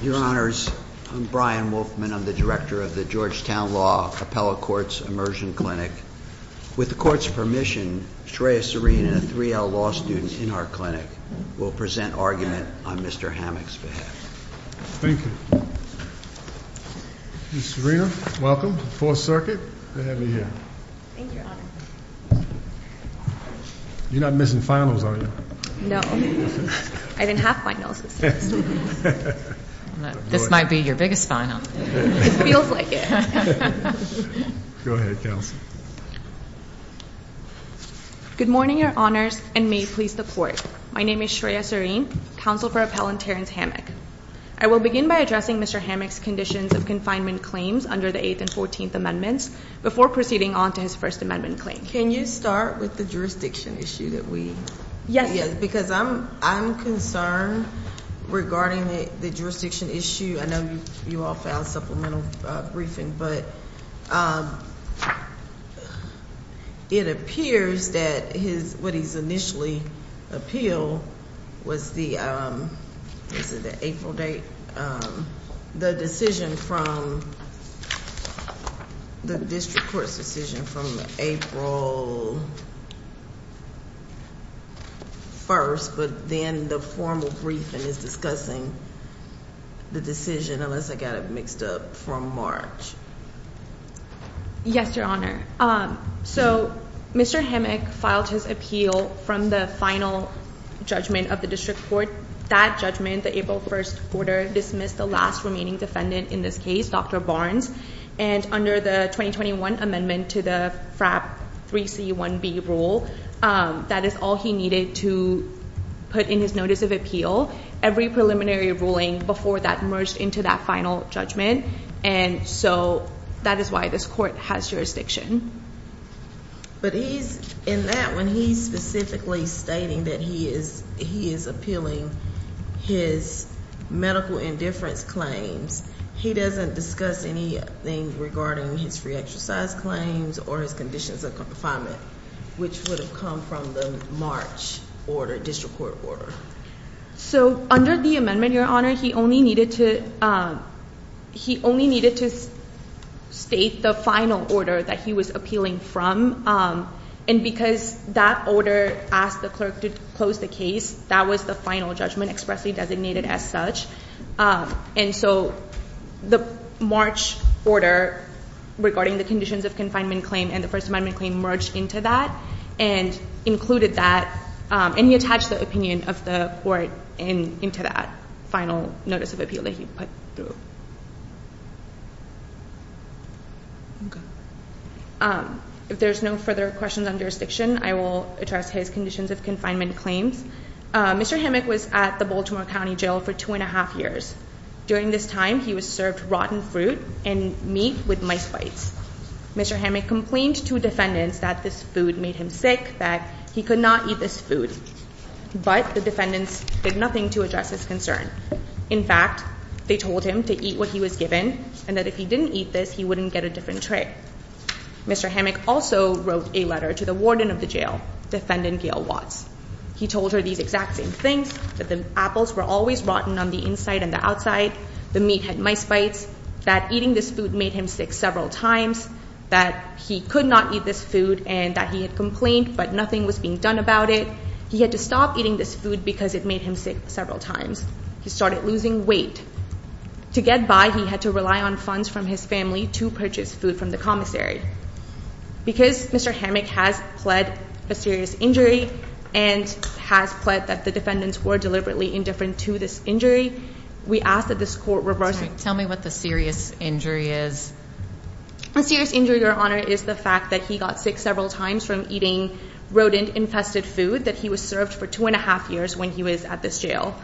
Your honors, I'm Brian Wolfman. I'm the director of the Georgetown Law Appellate Courts Immersion Clinic. With the court's permission, Shreya Serena, a 3L law student in our clinic, will present argument on Mr. Hammock's behalf. Thank you. Ms. Serena, welcome to the Fourth Circuit. Glad to have you here. Thank you, your honor. You're not missing finals, are you? No. I didn't have finals this year. This might be your biggest final. It feels like it. Go ahead, counsel. Good morning, your honors, and may it please the court. My name is Shreya Serena, counsel for Appellant Terrence Hammock. I will begin by addressing Mr. Hammock's conditions of confinement claims under the Eighth and Fourteenth Amendments before proceeding on to his First Amendment claim. Can you start with the jurisdiction issue? Yes. Because I'm concerned regarding the jurisdiction issue. I know you all filed supplemental briefing, but it appears that what he's initially appealed was the April date. The decision from the district court's decision from April 1st, but then the formal briefing is discussing the decision, unless I got it mixed up from March. Yes, your honor. So, Mr. Hammock filed his appeal from the final judgment of the district court. That judgment, the April 1st order, dismissed the last remaining defendant in this case, Dr. Barnes. And under the 2021 amendment to the FRAP 3C1B rule, that is all he needed to put in his notice of appeal. Every preliminary ruling before that merged into that final judgment. And so, that is why this court has jurisdiction. But he's, in that one, he's specifically stating that he is appealing his medical indifference claims. He doesn't discuss anything regarding his free exercise claims or his conditions of confinement, which would have come from the March order, district court order. So, under the amendment, your honor, he only needed to state the final order that he was appealing from. And because that order asked the clerk to close the case, that was the final judgment expressly designated as such. And so, the March order regarding the conditions of confinement claim and the First Amendment claim merged into that and included that. And he attached the opinion of the court into that final notice of appeal that he put through. If there's no further questions on jurisdiction, I will address his conditions of confinement claims. Mr. Hammack was at the Baltimore County Jail for two and a half years. During this time, he was served rotten fruit and meat with mice bites. Mr. Hammack complained to defendants that this food made him sick, that he could not eat this food. But the defendants did nothing to address his concern. In fact, they told him to eat what he was given and that if he didn't eat this, he wouldn't get a different treat. Mr. Hammack also wrote a letter to the warden of the jail, defendant Gail Watts. He told her these exact same things, that the apples were always rotten on the inside and the outside, the meat had mice bites. That eating this food made him sick several times. That he could not eat this food and that he had complained, but nothing was being done about it. He had to stop eating this food because it made him sick several times. He started losing weight. To get by, he had to rely on funds from his family to purchase food from the commissary. Because Mr. Hammack has pled a serious injury and has pled that the defendants were deliberately indifferent to this injury, we ask that this court reverse it. Tell me what the serious injury is. The serious injury, Your Honor, is the fact that he got sick several times from eating rodent infested food. That he was served for two and a half years when he was at this jail.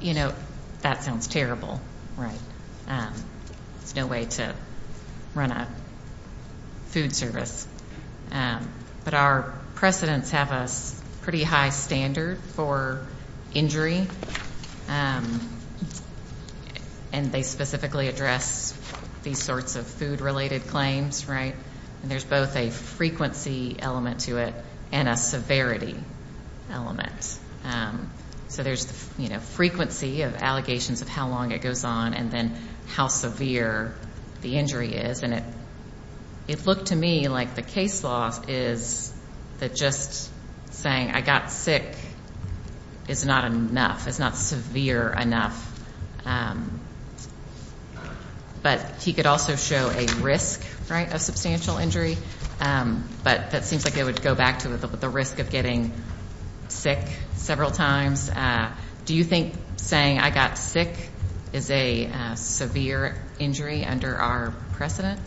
You know, that sounds terrible, right? There's no way to run a food service. But our precedents have a pretty high standard for injury. And they specifically address these sorts of food related claims, right? And there's both a frequency element to it and a severity element. So there's, you know, frequency of allegations of how long it goes on and then how severe the injury is. It looked to me like the case law is that just saying I got sick is not enough. It's not severe enough. But he could also show a risk, right, of substantial injury. But that seems like it would go back to the risk of getting sick several times. Do you think saying I got sick is a severe injury under our precedent?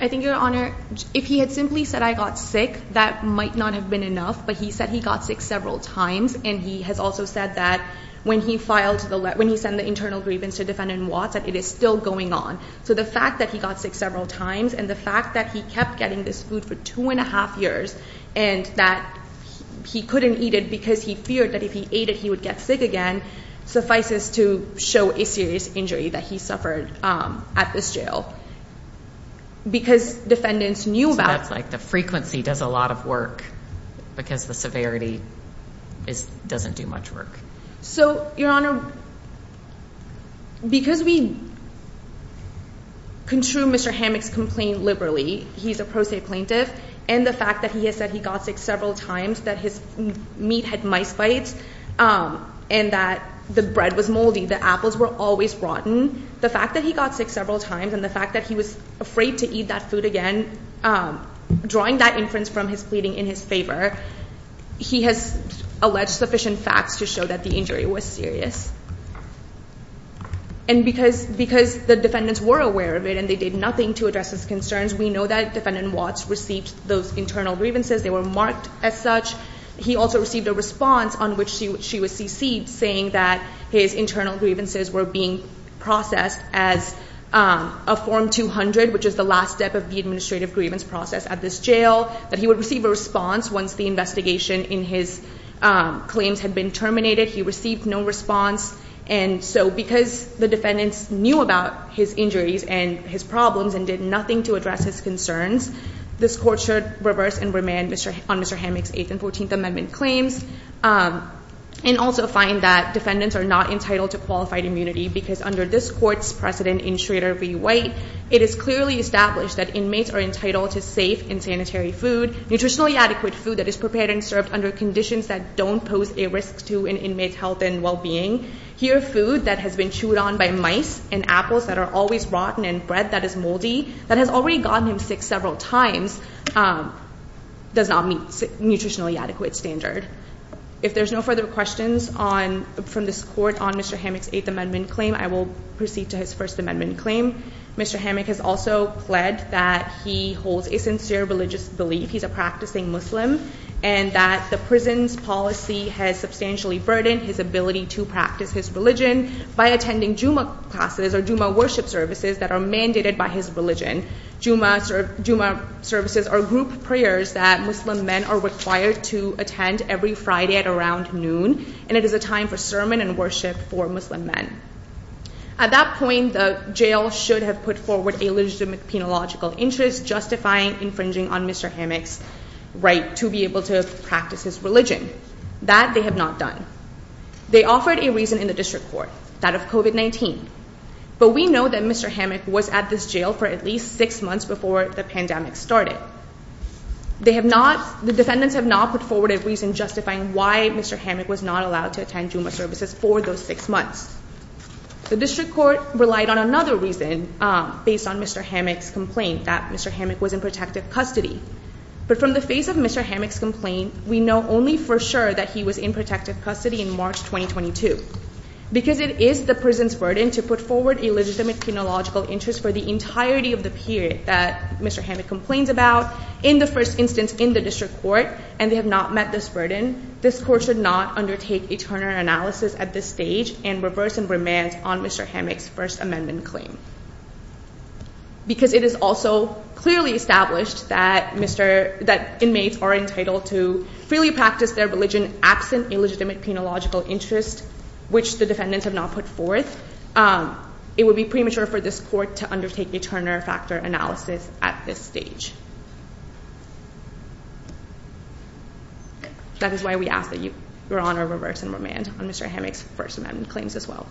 I think, Your Honor, if he had simply said I got sick, that might not have been enough. But he said he got sick several times. And he has also said that when he sent the internal grievance to defendant Watts that it is still going on. So the fact that he got sick several times and the fact that he kept getting this food for two and a half years. And that he couldn't eat it because he feared that if he ate it he would get sick again. Suffices to show a serious injury that he suffered at this jail. Because defendants knew about. So that's like the frequency does a lot of work because the severity doesn't do much work. So, Your Honor, because we contrue Mr. Hammock's complaint liberally. He's a pro se plaintiff. And the fact that he has said he got sick several times, that his meat had mice bites. And that the bread was moldy. The apples were always rotten. The fact that he got sick several times and the fact that he was afraid to eat that food again. Drawing that inference from his pleading in his favor. He has alleged sufficient facts to show that the injury was serious. And because the defendants were aware of it and they did nothing to address his concerns. We know that defendant Watts received those internal grievances. They were marked as such. He also received a response on which she was CC'd saying that his internal grievances were being processed as a form 200. Which is the last step of the administrative grievance process at this jail. That he would receive a response once the investigation in his claims had been terminated. He received no response. And so because the defendants knew about his injuries and his problems. And did nothing to address his concerns. This court should reverse and remand on Mr. Hammock's 8th and 14th Amendment claims. And also find that defendants are not entitled to qualified immunity. Because under this court's precedent in Schrader v. White. It is clearly established that inmates are entitled to safe and sanitary food. Nutritionally adequate food that is prepared and served under conditions that don't pose a risk to an inmate's health and well-being. Here food that has been chewed on by mice. And apples that are always rotten and bread that is moldy. That has already gotten him sick several times. Does not meet nutritionally adequate standard. If there's no further questions from this court on Mr. Hammock's 8th Amendment claim. I will proceed to his 1st Amendment claim. Mr. Hammock has also pled that he holds a sincere religious belief. He's a practicing Muslim. And that the prison's policy has substantially burdened his ability to practice his religion. By attending Juma classes or Juma worship services that are mandated by his religion. Juma services are group prayers that Muslim men are required to attend every Friday at around noon. And it is a time for sermon and worship for Muslim men. At that point the jail should have put forward a legitimate penological interest. Justifying infringing on Mr. Hammock's right to be able to practice his religion. That they have not done. They offered a reason in the district court. That of COVID-19. But we know that Mr. Hammock was at this jail for at least 6 months before the pandemic started. The defendants have not put forward a reason justifying why Mr. Hammock was not allowed to attend Juma services for those 6 months. The district court relied on another reason. Based on Mr. Hammock's complaint. That Mr. Hammock was in protective custody. But from the face of Mr. Hammock's complaint. We know only for sure that he was in protective custody in March 2022. Because it is the prison's burden to put forward a legitimate penological interest for the entirety of the period that Mr. Hammock complains about. In the first instance in the district court. And they have not met this burden. This court should not undertake a Turner analysis at this stage. And reverse and remand on Mr. Hammock's first amendment claim. Because it is also clearly established that inmates are entitled to freely practice their religion. Absent a legitimate penological interest. Which the defendants have not put forth. It would be premature for this court to undertake a Turner factor analysis at this stage. That is why we ask that your honor reverse and remand on Mr. Hammock's first amendment claims as well.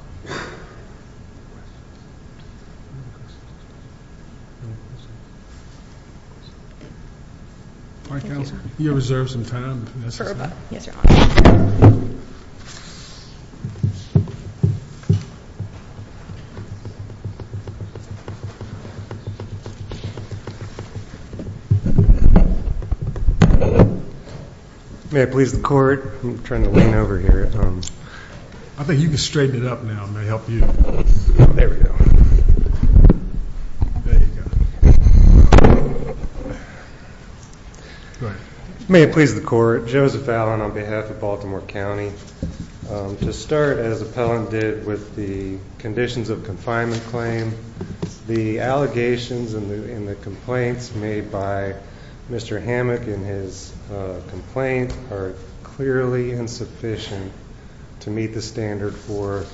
Thank you. You reserve some time. May I please the court. I'm trying to lean over here. I think you can straighten it up now. Let me help you. There we go. There you go. Go ahead. May it please the court. Joseph Allen on behalf of Baltimore County. To start as appellant did with the conditions of confinement claim. The allegations and the complaints made by Mr. Hammock in his complaint. Are clearly insufficient. To meet the standard for.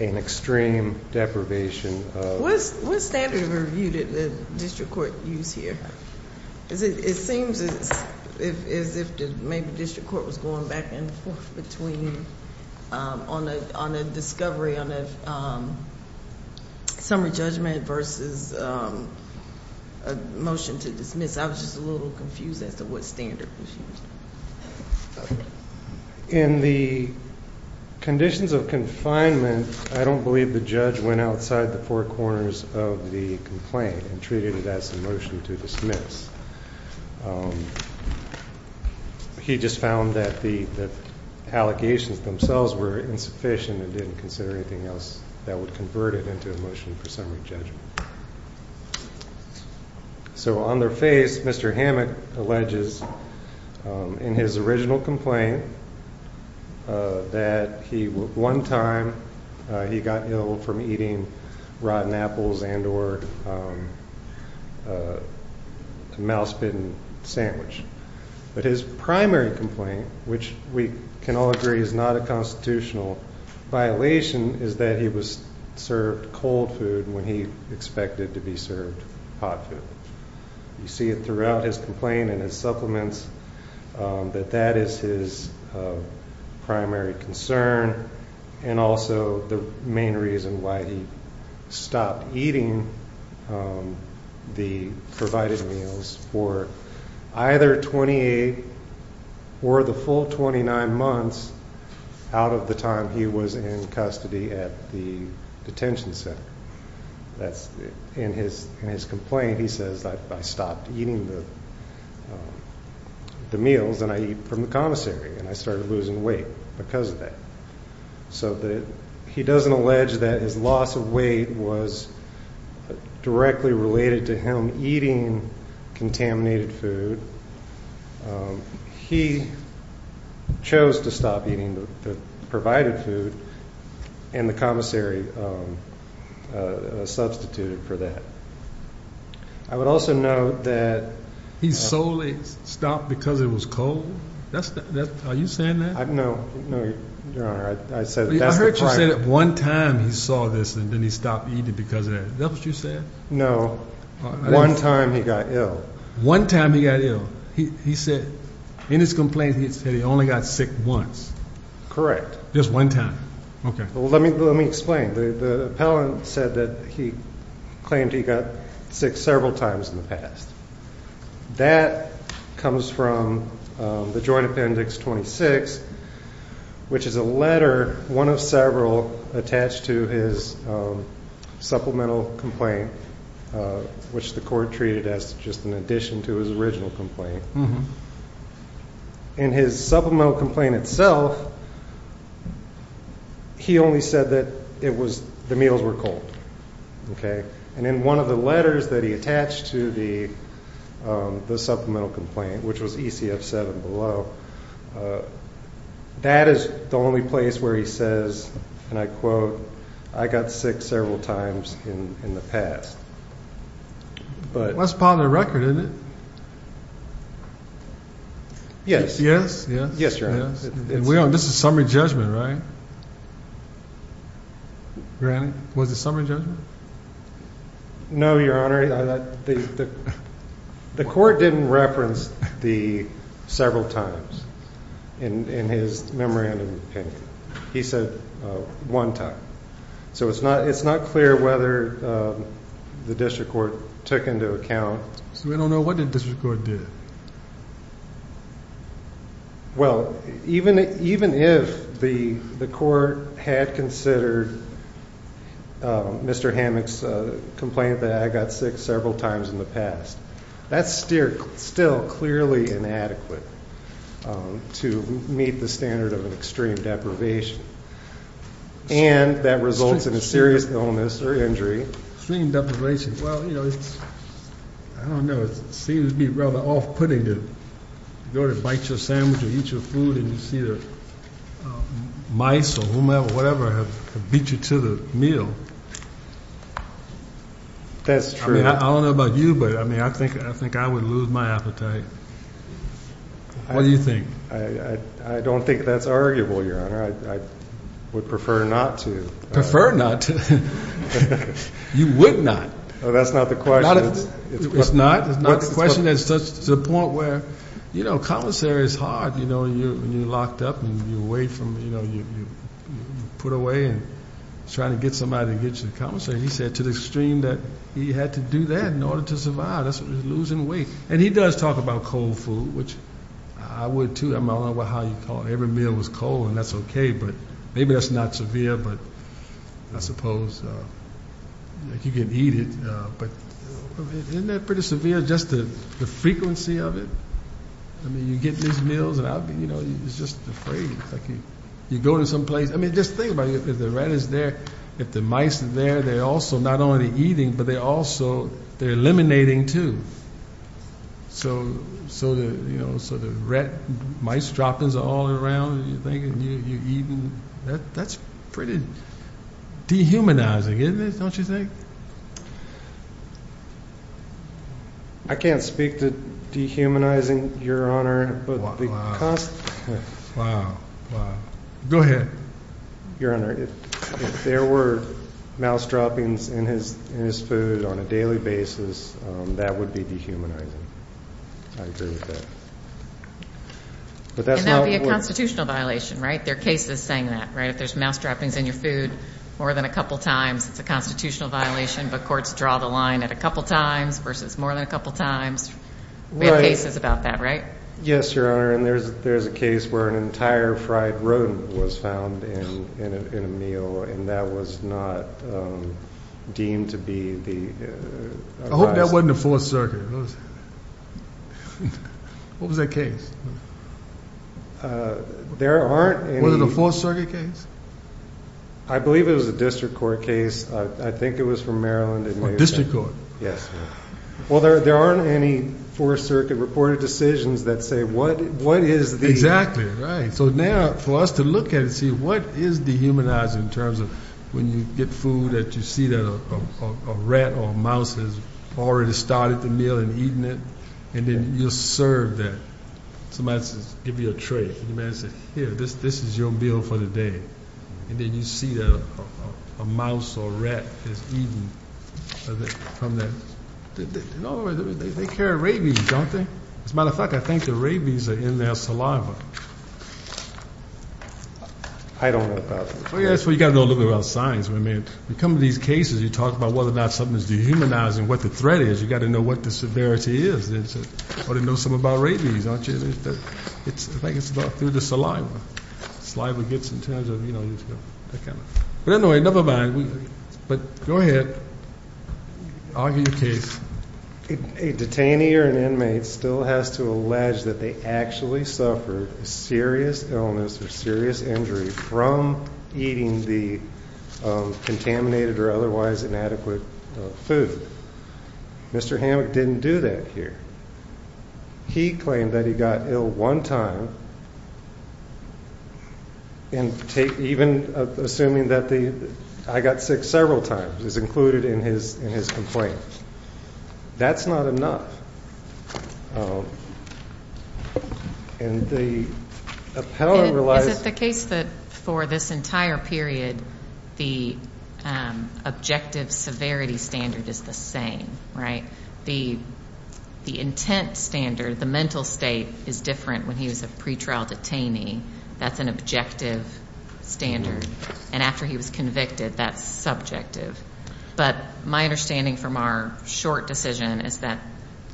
An extreme deprivation. Was standard reviewed at the district court use here. It seems as if maybe district court was going back and forth between. On a discovery on a. Summary judgment versus. A motion to dismiss. I was just a little confused as to what standard. In the. He just found that the. Allocations themselves were insufficient and didn't consider anything else. That would convert it into a motion for summary judgment. So on their face, Mr. Hammock alleges. In his original complaint. That he will one time. He got ill from eating. Rotten apples and or. A mouse bin sandwich. But his primary complaint, which we can all agree is not a constitutional. Violation is that he was served cold food when he expected to be served. You see it throughout his complaint and his supplements. That that is his. Primary concern. And also the main reason why he. Stop eating. The provided meals for. Either 28. Or the full 29 months. Out of the time he was in custody at the. Detention center. That's in his, in his complaint, he says, I stopped eating. The meals and I eat from the connoisseur. And I started losing weight. Because of that. So that he doesn't allege that his loss of weight was. Directly related to him eating. Contaminated food. He. Chose to stop eating. Provided food. And the commissary. Substituted for that. I would also know that. He's solely stopped because it was cold. That's that. Are you saying that? No, no. Your honor. I said. I heard you say that one time. He saw this. And then he stopped eating because of that. That's what you said. No. One time. He got ill. One time. He got ill. He said. In his complaint. He said he only got sick once. Correct. Just one time. Okay. Well, let me, let me explain. The appellant said that he. Claimed he got sick several times in the past. That. Comes from. The joint appendix. Which is a letter. One of several. Attached to his. Supplemental complaint. Which the court treated as just an addition to his original complaint. In his supplemental complaint itself. He only said that it was the meals were cold. Okay. And in one of the letters that he attached to the. The supplemental complaint, which was ECF seven below. That is the only place where he says. And I quote. I got sick several times in the past. But. That's part of the record. Isn't it? Yes. Yes. Yes. Yes, your honor. This is summary judgment, right? Was the summary judgment. No, your honor. The. The court didn't reference the. Several times. In his memorandum. He said. One time. So it's not, it's not clear whether. The district court. Took into account. So we don't know what the district court did. Well, even, even if the. The court had considered. Mr. Hammocks. Complaint that I got sick several times in the past. That's still clearly inadequate. To meet the standard of an extreme deprivation. And that results in a serious illness or injury. Extreme deprivation. Well, you know, it's. I don't know. It seems to be rather off-putting to. Go to bite your sandwich or eat your food. And you see there. Mice or whomever, whatever. Beat you to the meal. That's true. I don't know about you, but I mean, I think, I think I would lose my appetite. What do you think? I don't think that's arguable, your honor. I would prefer not to. Prefer not to. You would not. That's not the question. It's not. It's a point where, you know, commissary is hard. You know, when you're locked up and you're away from, you know, you're put away and trying to get somebody to get you to the commissary. He said to the extreme that he had to do that in order to survive. That's losing weight. And he does talk about cold food, which I would, too. I don't know how you call it. Every meal was cold, and that's okay. But maybe that's not severe, but I suppose you can eat it. Isn't that pretty severe, just the frequency of it? I mean, you get these meals and, you know, you're just afraid. You go to some place. I mean, just think about it. If the rat is there, if the mice are there, they're also not only eating, but they're also eliminating, too. So, you know, the rat and mice droppings are all around, and you're eating. I mean, that's pretty dehumanizing, isn't it, don't you think? I can't speak to dehumanizing, Your Honor. Wow. Go ahead. Your Honor, if there were mouse droppings in his food on a daily basis, that would be dehumanizing. I agree with that. And that would be a constitutional violation, right? There are cases saying that, right? If there's mouse droppings in your food more than a couple times, it's a constitutional violation, but courts draw the line at a couple times versus more than a couple times. We have cases about that, right? Yes, Your Honor. And there's a case where an entire fried rodent was found in a meal, and that was not deemed to be the... I hope that wasn't the Fourth Circuit. What was that case? There aren't any... Was it a Fourth Circuit case? I believe it was a district court case. I think it was from Maryland. A district court. Yes. Well, there aren't any Fourth Circuit reported decisions that say what is the... Exactly, right. So now for us to look at it and see what is dehumanizing in terms of when you get food that you see that a rat or a mouse has already started the meal and eaten it, and then you serve that. Somebody says, give me a tray. You may say, here, this is your meal for the day. And then you see a mouse or a rat has eaten from that. They carry rabies, don't they? As a matter of fact, I think the rabies are in their saliva. I don't know about that. That's what you've got to know a little bit about science. When we come to these cases, you talk about whether or not something is dehumanizing, what the threat is. You've got to know what the severity is. You ought to know something about rabies, don't you? I think it's about through the saliva. Saliva gets in terms of, you know, that kind of thing. But anyway, never mind. But go ahead. Argue your case. A detainee or an inmate still has to allege that they actually suffered a serious illness or serious injury from eating the contaminated or otherwise inadequate food. Mr. Hammack didn't do that here. He claimed that he got ill one time, even assuming that the I got sick several times is included in his complaint. That's not enough. And the appellant realized that. Is it the case that for this entire period the objective severity standard is the same, right? The intent standard, the mental state, is different when he was a pretrial detainee. That's an objective standard. And after he was convicted, that's subjective. But my understanding from our short decision is that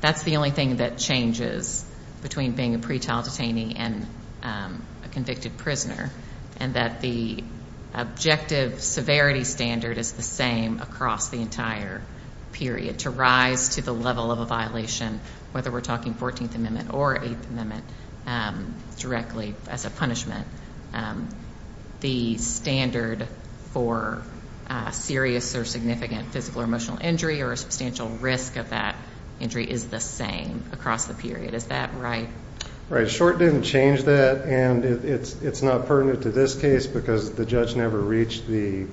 that's the only thing that changes between being a pretrial detainee and a convicted prisoner, and that the objective severity standard is the same across the entire period, to rise to the level of a violation, whether we're talking 14th Amendment or 8th Amendment, directly as a punishment. The standard for serious or significant physical or emotional injury or a substantial risk of that injury is the same across the period. Is that right? Right. Short didn't change that, and it's not pertinent to this case because the judge never reached the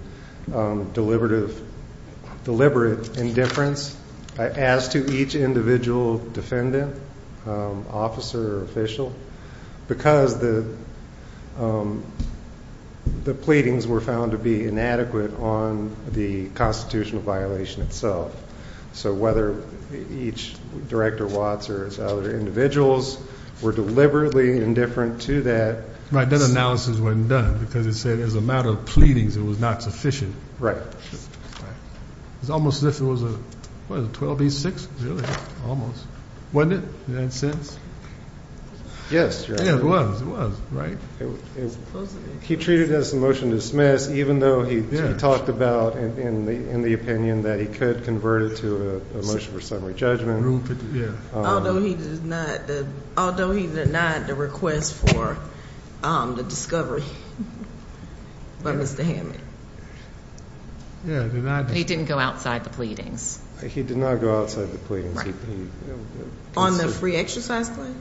deliberate indifference, as to each individual defendant, officer or official, because the pleadings were found to be inadequate on the constitutional violation itself. So whether each Director Watts or other individuals were deliberately indifferent to that. Right. That analysis wasn't done because it said as a matter of pleadings it was not sufficient. Right. Right. It's almost as if it was a 12B6. Almost. Wasn't it? In that sense? Yes. It was. Right? He treated it as a motion to dismiss, even though he talked about, in the opinion, that he could convert it to a motion for summary judgment. Although he denied the request for the discovery by Mr. Hammond. He didn't go outside the pleadings. He did not go outside the pleadings. On the free exercise claim?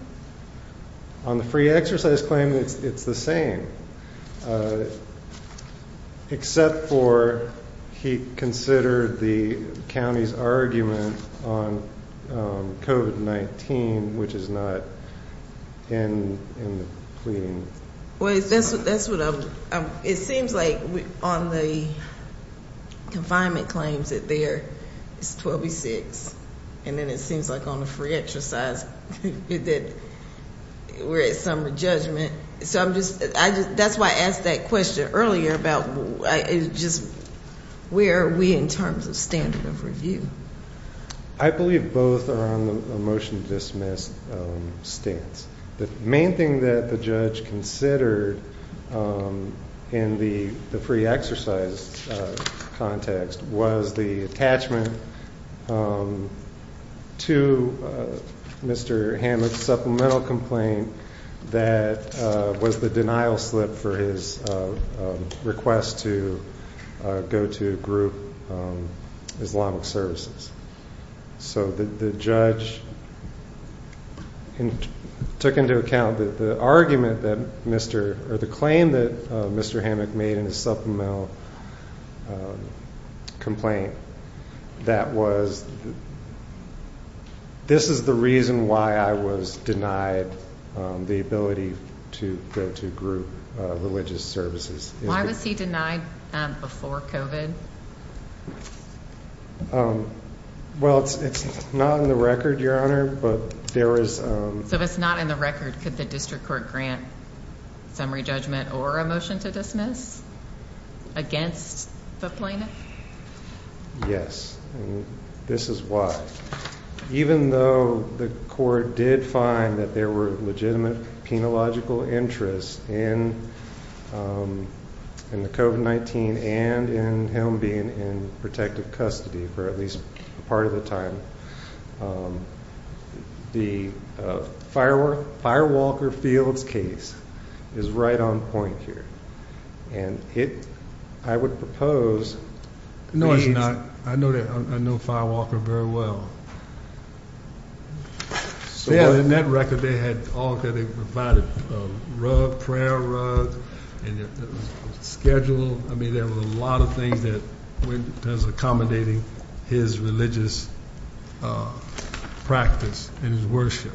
On the free exercise claim, it's the same. Except for he considered the county's argument on COVID-19, which is not in the pleadings. Well, that's what I'm... It seems like on the confinement claims that there is 12B6. And then it seems like on the free exercise that we're at summary judgment. So I'm just... That's why I asked that question earlier about just where are we in terms of standard of review? I believe both are on the motion to dismiss stance. The main thing that the judge considered in the free exercise context was the attachment to Mr. Hammond's supplemental complaint that was the denial slip for his request to go to group Islamic services. So the judge took into account that the argument that Mr. or the claim that Mr. Hammond made in his supplemental complaint that was... This is the reason why I was denied the ability to go to group religious services. Why was he denied before COVID? Well, it's not in the record, Your Honor, but there is... So if it's not in the record, could the district court grant summary judgment or a motion to dismiss against the plaintiff? Yes. And this is why. Even though the court did find that there were legitimate penological interests in the COVID-19 and in him being in protective custody for at least part of the time, the Firewalker Fields case is right on point here. And I would propose... No, it's not. I know Firewalker very well. In that record, they provided a rug, prayer rug, and a schedule. I mean, there were a lot of things that went as accommodating his religious practice and his worship.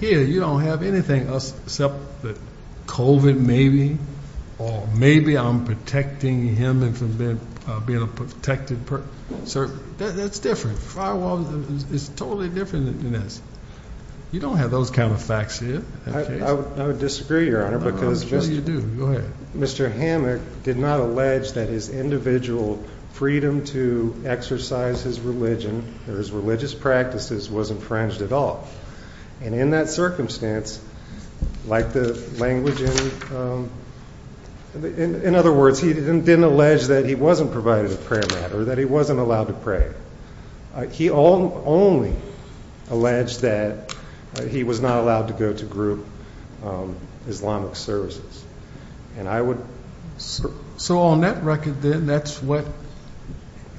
Here, you don't have anything except that COVID maybe, or maybe I'm protecting him from being a protected person. That's different. Firewalker is totally different than this. You don't have those kind of facts here. I would disagree, Your Honor, because Mr. Hammond did not allege that his individual freedom to exercise his religion or his religious practices wasn't infringed at all. And in that circumstance, like the language... In other words, he didn't allege that he wasn't provided a prayer mat or that he wasn't allowed to pray. He only alleged that he was not allowed to go to group Islamic services. And I would... So on that record, then, that's what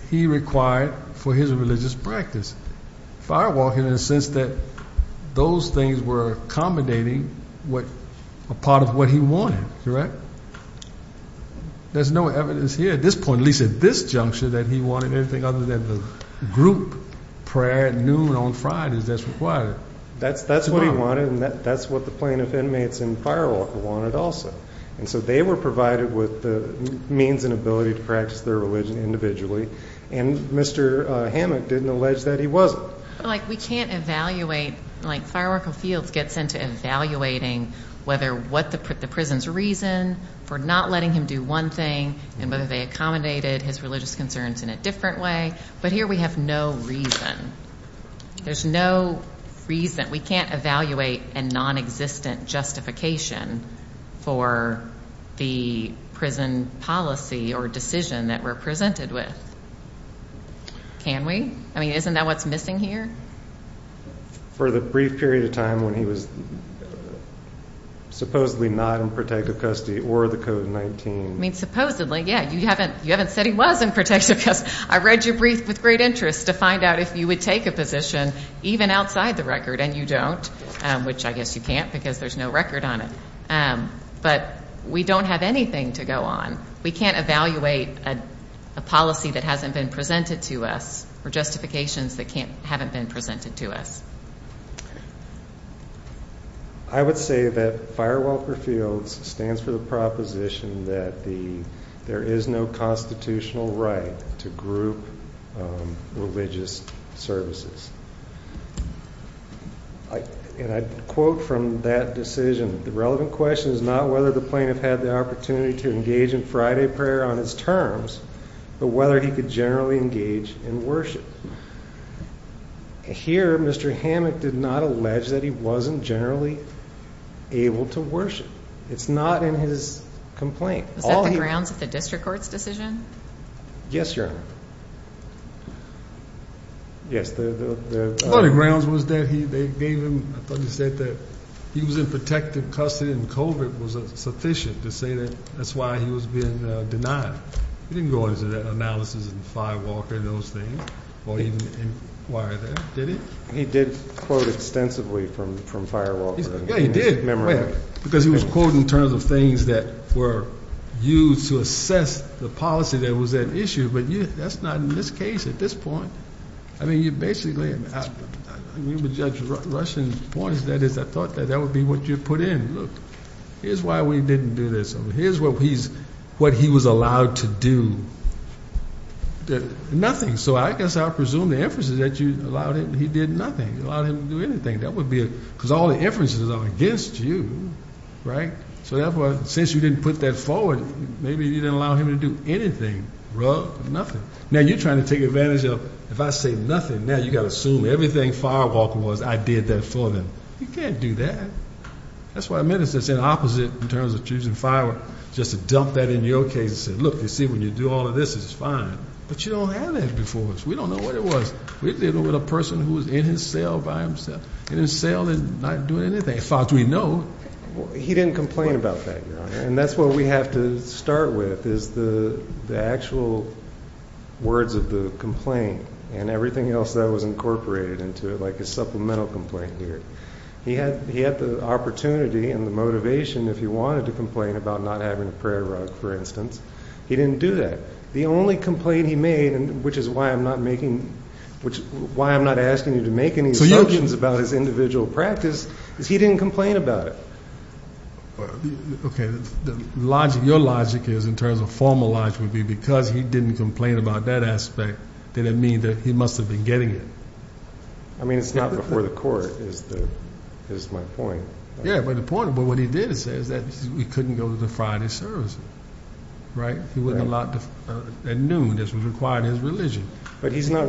he required for his religious practice. Firewalker, in a sense, that those things were accommodating a part of what he wanted, correct? There's no evidence here, at this point, at least at this juncture, that he wanted anything other than the group prayer at noon on Fridays. That's required. That's what he wanted, and that's what the plaintiff inmates in Firewalker wanted also. And so they were provided with the means and ability to practice their religion individually. And Mr. Hammond didn't allege that he wasn't. But, like, we can't evaluate. Like, Firewalker Fields gets into evaluating whether what the prison's reason for not letting him do one thing and whether they accommodated his religious concerns in a different way. But here we have no reason. There's no reason. We can't evaluate a nonexistent justification for the prison policy or decision that we're presented with. Can we? I mean, isn't that what's missing here? For the brief period of time when he was supposedly not in protective custody or the Code 19. I mean, supposedly, yeah. You haven't said he was in protective custody. Because I read your brief with great interest to find out if you would take a position even outside the record, and you don't, which I guess you can't because there's no record on it. But we don't have anything to go on. We can't evaluate a policy that hasn't been presented to us or justifications that haven't been presented to us. I would say that Firewalker Fields stands for the proposition that there is no constitutional right to group religious services. And I quote from that decision, the relevant question is not whether the plaintiff had the opportunity to engage in Friday prayer on his terms, but whether he could generally engage in worship. Here, Mr. Hammack did not allege that he wasn't generally able to worship. It's not in his complaint. Was that the grounds of the district court's decision? Yes, Your Honor. Yes. One of the grounds was that they gave him, I thought you said that he was in protective custody and COVID was sufficient to say that that's why he was being denied. He didn't go into that analysis in Firewalker and those things or even inquire there, did he? He did quote extensively from Firewalker. Yeah, he did. Because he was quoting in terms of things that were used to assess the policy that was at issue. But that's not in this case at this point. I mean, you basically, you would judge Russian points. That is, I thought that that would be what you put in. Look, here's why we didn't do this. Here's what he was allowed to do. Nothing. So I guess I presume the inferences that you allowed him, he did nothing. You allowed him to do anything. That would be, because all the inferences are against you, right? So therefore, since you didn't put that forward, maybe you didn't allow him to do anything. Nothing. Now, you're trying to take advantage of, if I say nothing, now you've got to assume everything Firewalker was, I did that for them. You can't do that. That's what I meant. It's the opposite in terms of choosing Firewalker. Just to dump that in your case and say, look, you see, when you do all of this, it's fine. But you don't have that before us. We don't know what it was. We're dealing with a person who was in his cell by himself. In his cell and not doing anything. As far as we know. He didn't complain about that, Your Honor. And that's what we have to start with is the actual words of the complaint and everything else that was incorporated into it, like his supplemental complaint here. He had the opportunity and the motivation, if he wanted to complain about not having a prayer rug, for instance. He didn't do that. The only complaint he made, which is why I'm not asking you to make any assumptions about his individual practice, is he didn't complain about it. Okay. Your logic is, in terms of formal logic, would be because he didn't complain about that aspect, did it mean that he must have been getting it? I mean, it's not before the court, is my point. Yeah, but the point of what he did say is that he couldn't go to the Friday services, right? He wasn't allowed at noon. This was required in his religion. But he's not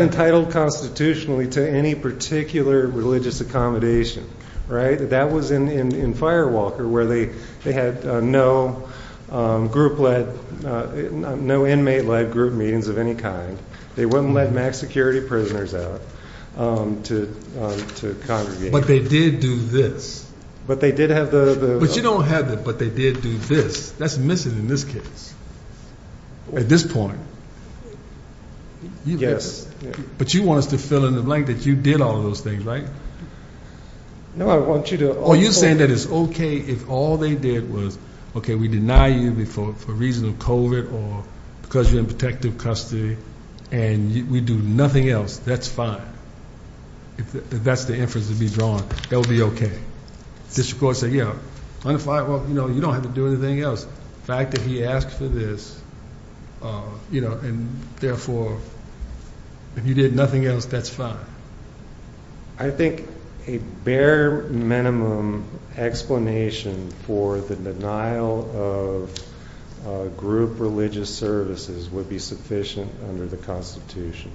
entitled constitutionally to any particular religious accommodation, right? That was in Firewalker, where they had no group-led, no inmate-led group meetings of any kind. They wouldn't let max security prisoners out to congregate. But they did do this. But they did have the- But you don't have the, but they did do this. That's missing in this case, at this point. Yes. But you want us to fill in the blank that you did all of those things, right? No, I want you to- Oh, you're saying that it's okay if all they did was, okay, we deny you for reasons of COVID or because you're in protective custody, and we do nothing else, that's fine. If that's the inference to be drawn, that would be okay. District Court said, yeah, under Firewalker, you don't have to do anything else. The fact that he asked for this, you know, and therefore, if you did nothing else, that's fine. I think a bare minimum explanation for the denial of group religious services would be sufficient under the Constitution.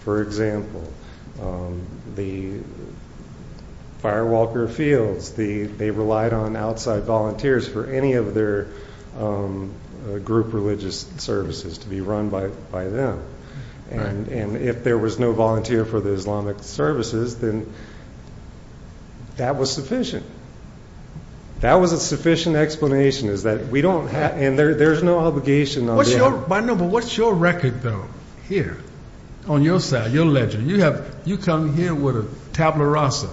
For example, the Firewalker fields, they relied on outside volunteers for any of their group religious services to be run by them. And if there was no volunteer for the Islamic services, then that was sufficient. That was a sufficient explanation, is that we don't have, and there's no obligation- What's your record, though, here, on your side, your ledger? You come here with a tabula rasa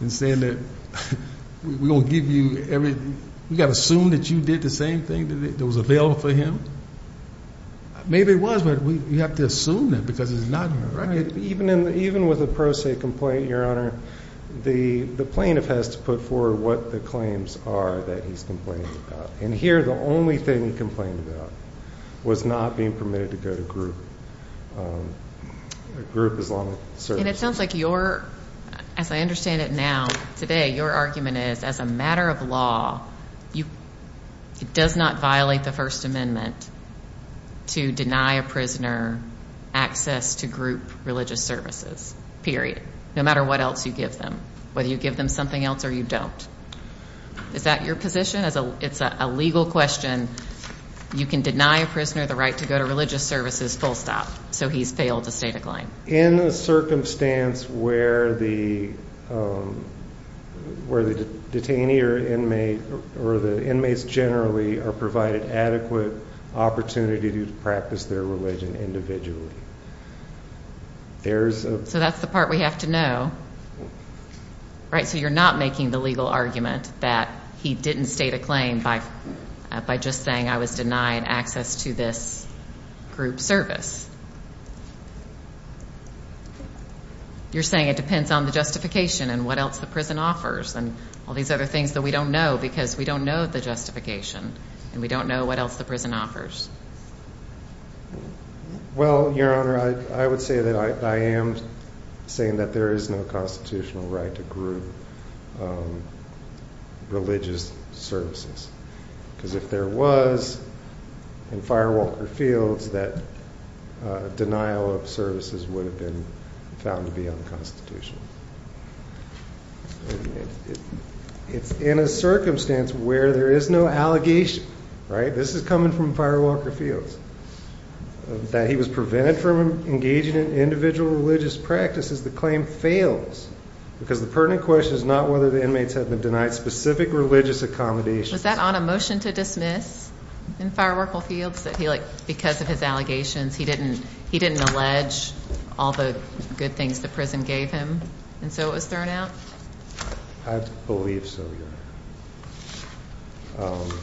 and saying that we're going to give you everything. We got to assume that you did the same thing that was available for him? Maybe it was, but you have to assume that because it's not in the record. Even with a pro se complaint, Your Honor, the plaintiff has to put forward what the claims are that he's complaining about. And here, the only thing he complained about was not being permitted to go to group Islamic services. And it sounds like you're, as I understand it now, today, your argument is as a matter of law, it does not violate the First Amendment to deny a prisoner access to group religious services, period. No matter what else you give them, whether you give them something else or you don't. Is that your position? It's a legal question. You can deny a prisoner the right to go to religious services full stop, so he's failed to state a claim. In a circumstance where the detainee or the inmates generally are provided adequate opportunity to practice their religion individually. So that's the part we have to know. Right, so you're not making the legal argument that he didn't state a claim by just saying I was denied access to this group service. You're saying it depends on the justification and what else the prison offers and all these other things that we don't know, because we don't know the justification and we don't know what else the prison offers. Well, Your Honor, I would say that I am saying that there is no constitutional right to group religious services, because if there was in firewalker fields, that denial of services would have been found to be unconstitutional. It's in a circumstance where there is no allegation, right? This is coming from firewalker fields. That he was prevented from engaging in individual religious practices, the claim fails, because the pertinent question is not whether the inmates have been denied specific religious accommodations. Was that on a motion to dismiss in firewalker fields that he, like, because of his allegations, he didn't allege all the good things the prison gave him, and so it was thrown out? I believe so, Your Honor.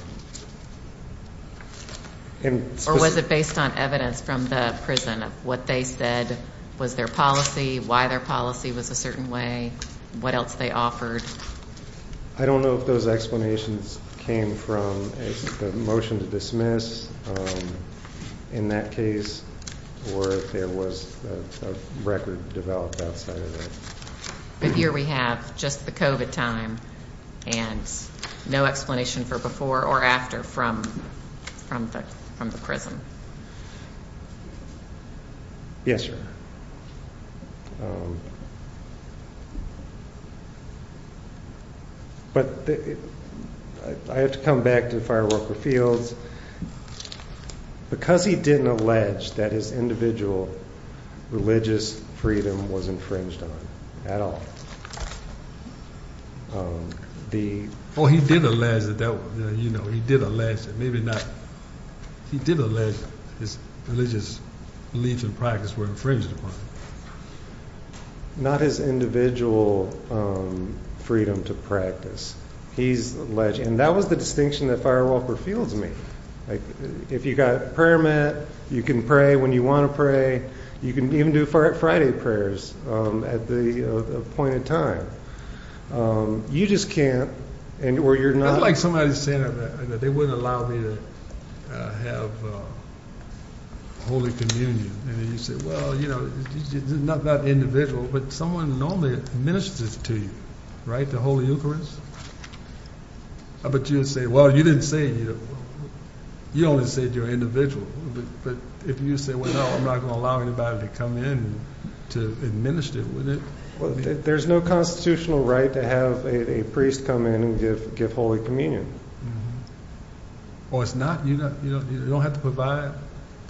Or was it based on evidence from the prison of what they said was their policy, why their policy was a certain way, what else they offered? I don't know if those explanations came from the motion to dismiss. In that case, or if there was a record developed outside of that. But here we have just the COVID time and no explanation for before or after from the prison. Yes, Your Honor. But I have to come back to firewalker fields. Because he didn't allege that his individual religious freedom was infringed on at all. Oh, he did allege that, you know, he did allege that, maybe not. He did allege his religious beliefs and practices were infringed upon. Not his individual freedom to practice. He's alleging, and that was the distinction that firewalker fields made. If you've got a prayer mat, you can pray when you want to pray. You can even do Friday prayers at the appointed time. You just can't, or you're not. I'd like somebody to say that they wouldn't allow me to have Holy Communion. And you say, well, you know, it's not about the individual, but someone normally ministers to you, right, the Holy Eucharist? But you'd say, well, you didn't say, you only said you're an individual. But if you say, well, no, I'm not going to allow anybody to come in to administer, wouldn't it? Well, there's no constitutional right to have a priest come in and give Holy Communion. Or it's not? You don't have to provide?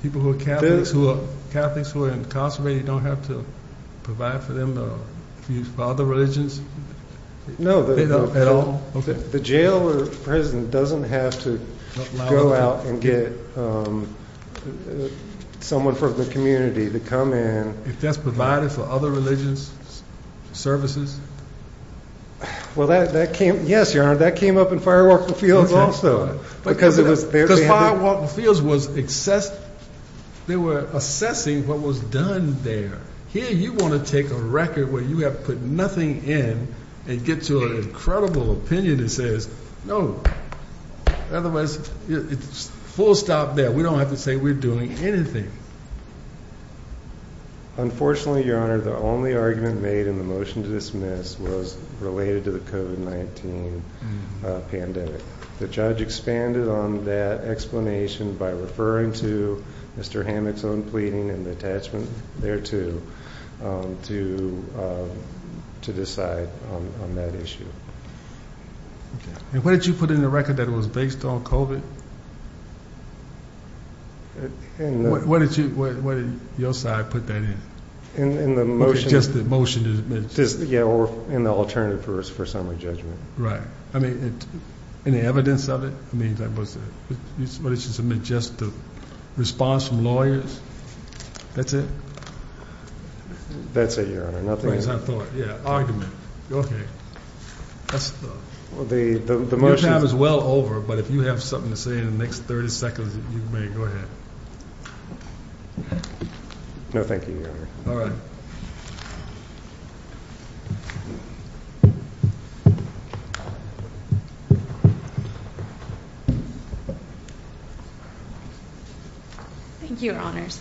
People who are Catholics who are incarcerated don't have to provide for them, for other religions? No. At all? The jail or prison doesn't have to go out and get someone from the community to come in. If that's provided for other religions, services? Well, that came up in firewalker fields also. Because firewalker fields was assessing what was done there. Here you want to take a record where you have put nothing in and get to an incredible opinion that says no. Otherwise, it's full stop there. We don't have to say we're doing anything. Unfortunately, Your Honor, the only argument made in the motion to dismiss was related to the COVID-19 pandemic. The judge expanded on that explanation by referring to Mr. Hammock's own pleading and the attachment thereto to decide on that issue. And what did you put in the record that it was based on COVID? What did your side put that in? In the motion? Just the motion to dismiss. Yeah, or in the alternative for summary judgment. Right. I mean, any evidence of it? I mean, that was a majestic response from lawyers. That's it? That's it, Your Honor. Nothing is on the floor. Yeah, argument. Your time is well over, but if you have something to say in the next 30 seconds, you may. Go ahead. No, thank you, Your Honor. All right. Thank you, Your Honors.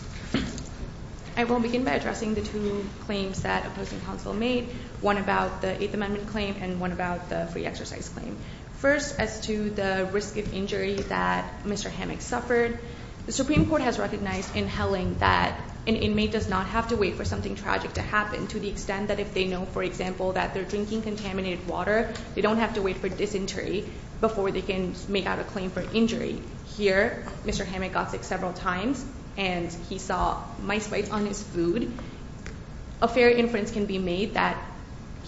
I will begin by addressing the two claims that opposing counsel made, one about the Eighth Amendment claim and one about the free exercise claim. First, as to the risk of injury that Mr. Hammock suffered, the Supreme Court has recognized in Helling that an inmate does not have to wait for something tragic to happen to the extent that if they know, for example, that they're drinking contaminated water, they don't have to wait for dysentery before they can make out a claim for injury. Here, Mr. Hammock got sick several times, and he saw mice bites on his food. A fair inference can be made that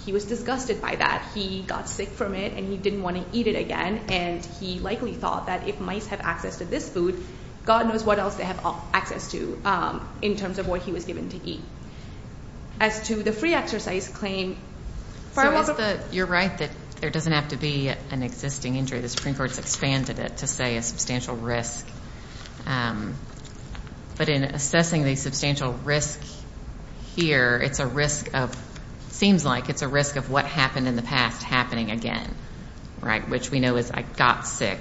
he was disgusted by that. He got sick from it, and he didn't want to eat it again, and he likely thought that if mice have access to this food, God knows what else they have access to in terms of what he was given to eat. As to the free exercise claim, Firewalker- You're right that there doesn't have to be an existing injury. The Supreme Court's expanded it to say a substantial risk. But in assessing the substantial risk here, it's a risk of, seems like it's a risk of what happened in the past happening again, right, which we know is I got sick.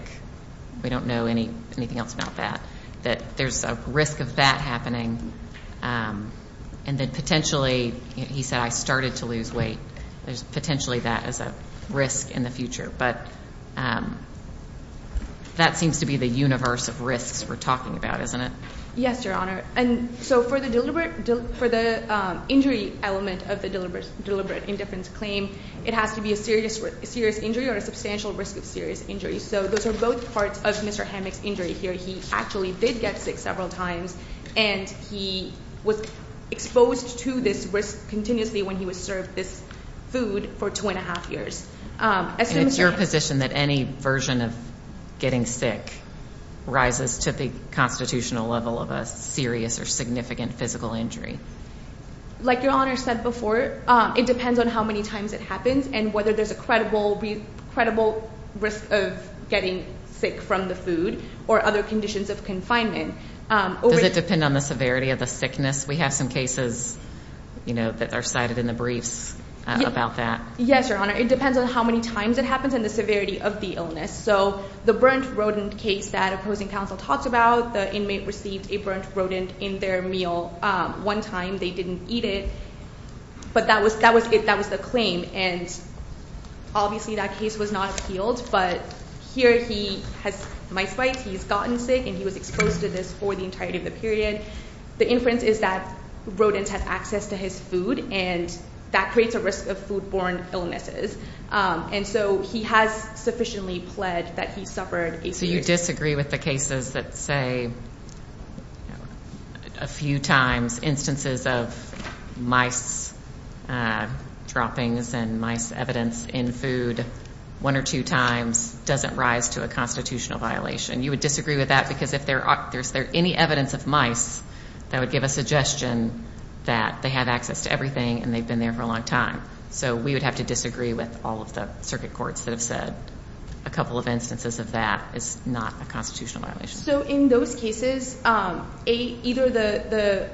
We don't know anything else about that. That there's a risk of that happening, and then potentially, he said, I started to lose weight. There's potentially that as a risk in the future. But that seems to be the universe of risks we're talking about, isn't it? Yes, Your Honor. And so for the injury element of the deliberate indifference claim, it has to be a serious injury or a substantial risk of serious injury. So those are both parts of Mr. Hammack's injury here. He actually did get sick several times, and he was exposed to this risk continuously when he was served this food for two and a half years. And it's your position that any version of getting sick rises to the constitutional level of a serious or significant physical injury? Like Your Honor said before, it depends on how many times it happens and whether there's a credible risk of getting sick from the food or other conditions of confinement. Does it depend on the severity of the sickness? We have some cases, you know, that are cited in the briefs about that. Yes, Your Honor. It depends on how many times it happens and the severity of the illness. So the burnt rodent case that opposing counsel talked about, the inmate received a burnt rodent in their meal one time. They didn't eat it, but that was the claim. And obviously that case was not appealed, but here he has mice bites. He's gotten sick, and he was exposed to this for the entirety of the period. The inference is that rodents have access to his food, and that creates a risk of foodborne illnesses. And so he has sufficiently pled that he suffered a serious injury. So you disagree with the cases that say a few times instances of mice droppings and mice evidence in food one or two times doesn't rise to a constitutional violation. You would disagree with that because if there's any evidence of mice, that would give a suggestion that they have access to everything and they've been there for a long time. So we would have to disagree with all of the circuit courts that have said a couple of instances of that is not a constitutional violation. So in those cases, either the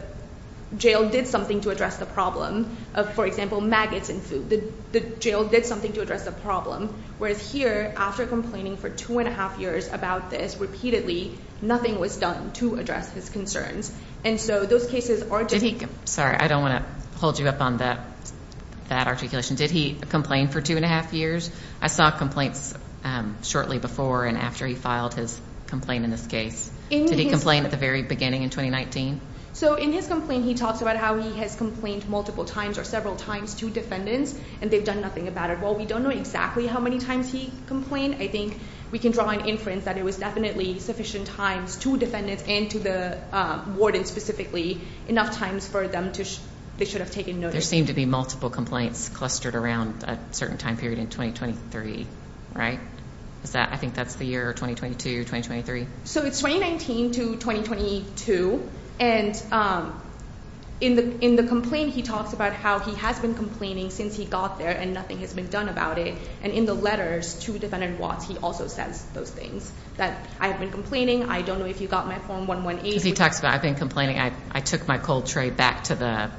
jail did something to address the problem of, for example, maggots in food. The jail did something to address the problem. Whereas here, after complaining for two and a half years about this repeatedly, nothing was done to address his concerns. Sorry, I don't want to hold you up on that articulation. Did he complain for two and a half years? I saw complaints shortly before and after he filed his complaint in this case. Did he complain at the very beginning in 2019? So in his complaint, he talks about how he has complained multiple times or several times to defendants, and they've done nothing about it. While we don't know exactly how many times he complained, I think we can draw an inference that it was definitely sufficient times to defendants and to the warden specifically, enough times for them to – they should have taken notice. There seemed to be multiple complaints clustered around a certain time period in 2023, right? Is that – I think that's the year 2022, 2023. So it's 2019 to 2022. And in the complaint, he talks about how he has been complaining since he got there and nothing has been done about it. And in the letters to defendant Watts, he also says those things, that I have been complaining. I don't know if you got my Form 118. Because he talks about I've been complaining. I took my cold tray back to the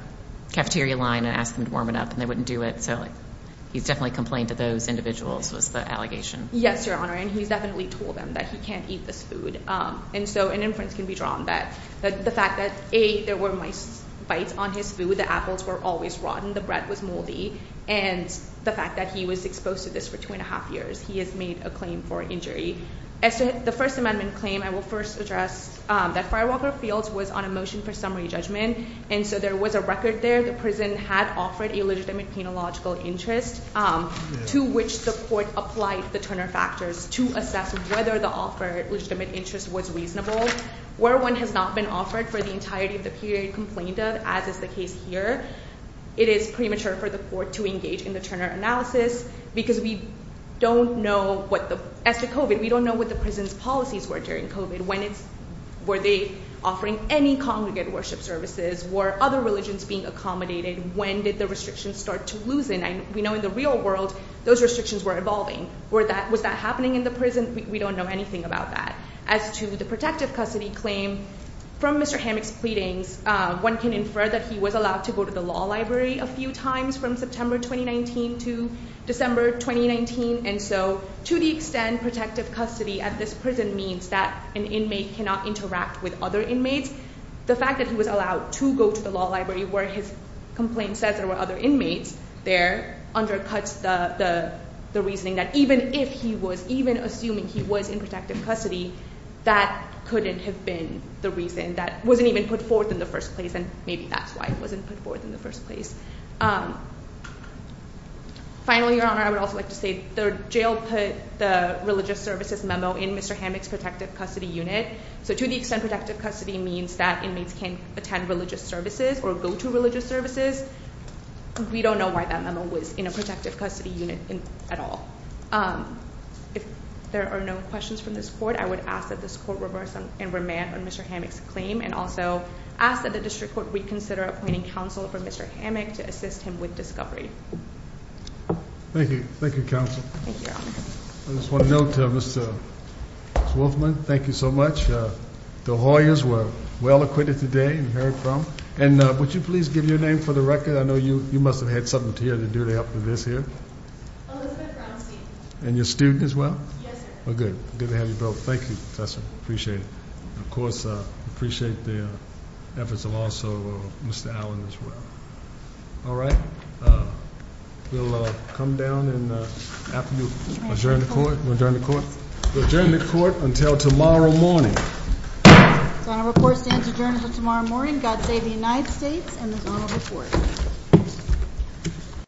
cafeteria line and asked them to warm it up, and they wouldn't do it. So he's definitely complained to those individuals was the allegation. Yes, Your Honor, and he's definitely told them that he can't eat this food. And so an inference can be drawn that the fact that, A, there were mice bites on his food, the apples were always rotten, the bread was moldy, and the fact that he was exposed to this for two and a half years, he has made a claim for injury. As to the First Amendment claim, I will first address that Firewalker Fields was on a motion for summary judgment. And so there was a record there. The prison had offered a legitimate penological interest to which the court applied the Turner factors to assess whether the offered legitimate interest was reasonable. Where one has not been offered for the entirety of the period complained of, as is the case here, it is premature for the court to engage in the Turner analysis because we don't know what the – we don't know what the prison's policies were during COVID. When it's – were they offering any congregate worship services? Were other religions being accommodated? When did the restrictions start to loosen? We know in the real world those restrictions were evolving. Was that happening in the prison? We don't know anything about that. As to the protective custody claim, from Mr. Hammack's pleadings, one can infer that he was allowed to go to the law library a few times from September 2019 to December 2019. And so to the extent protective custody at this prison means that an inmate cannot interact with other inmates, the fact that he was allowed to go to the law library where his complaint says there were other inmates there undercuts the reasoning that even if he was – even assuming he was in protective custody, that couldn't have been the reason. That wasn't even put forth in the first place, and maybe that's why it wasn't put forth in the first place. Finally, Your Honor, I would also like to say the jail put the religious services memo in Mr. Hammack's protective custody unit. So to the extent protective custody means that inmates can attend religious services or go to religious services, we don't know why that memo was in a protective custody unit at all. If there are no questions from this court, I would ask that this court reverse and remand on Mr. Hammack's claim and also ask that the district court reconsider appointing counsel for Mr. Hammack to assist him with discovery. Thank you. Thank you, Counsel. Thank you, Your Honor. I just want to note to Mr. Wolfman, thank you so much. The Hoyas were well acquitted today and heard from. And would you please give your name for the record? I know you must have had something to do to help with this here. Elizabeth Brownstein. And you're a student as well? Yes, sir. Well, good. Good to have you both. Thank you, Professor. Appreciate it. Of course, appreciate the efforts of also Mr. Allen as well. All right. We'll come down and after you adjourn the court. We'll adjourn the court. We'll adjourn the court until tomorrow morning. The Zonal Report stands adjourned until tomorrow morning. God save the United States and the Zonal Report.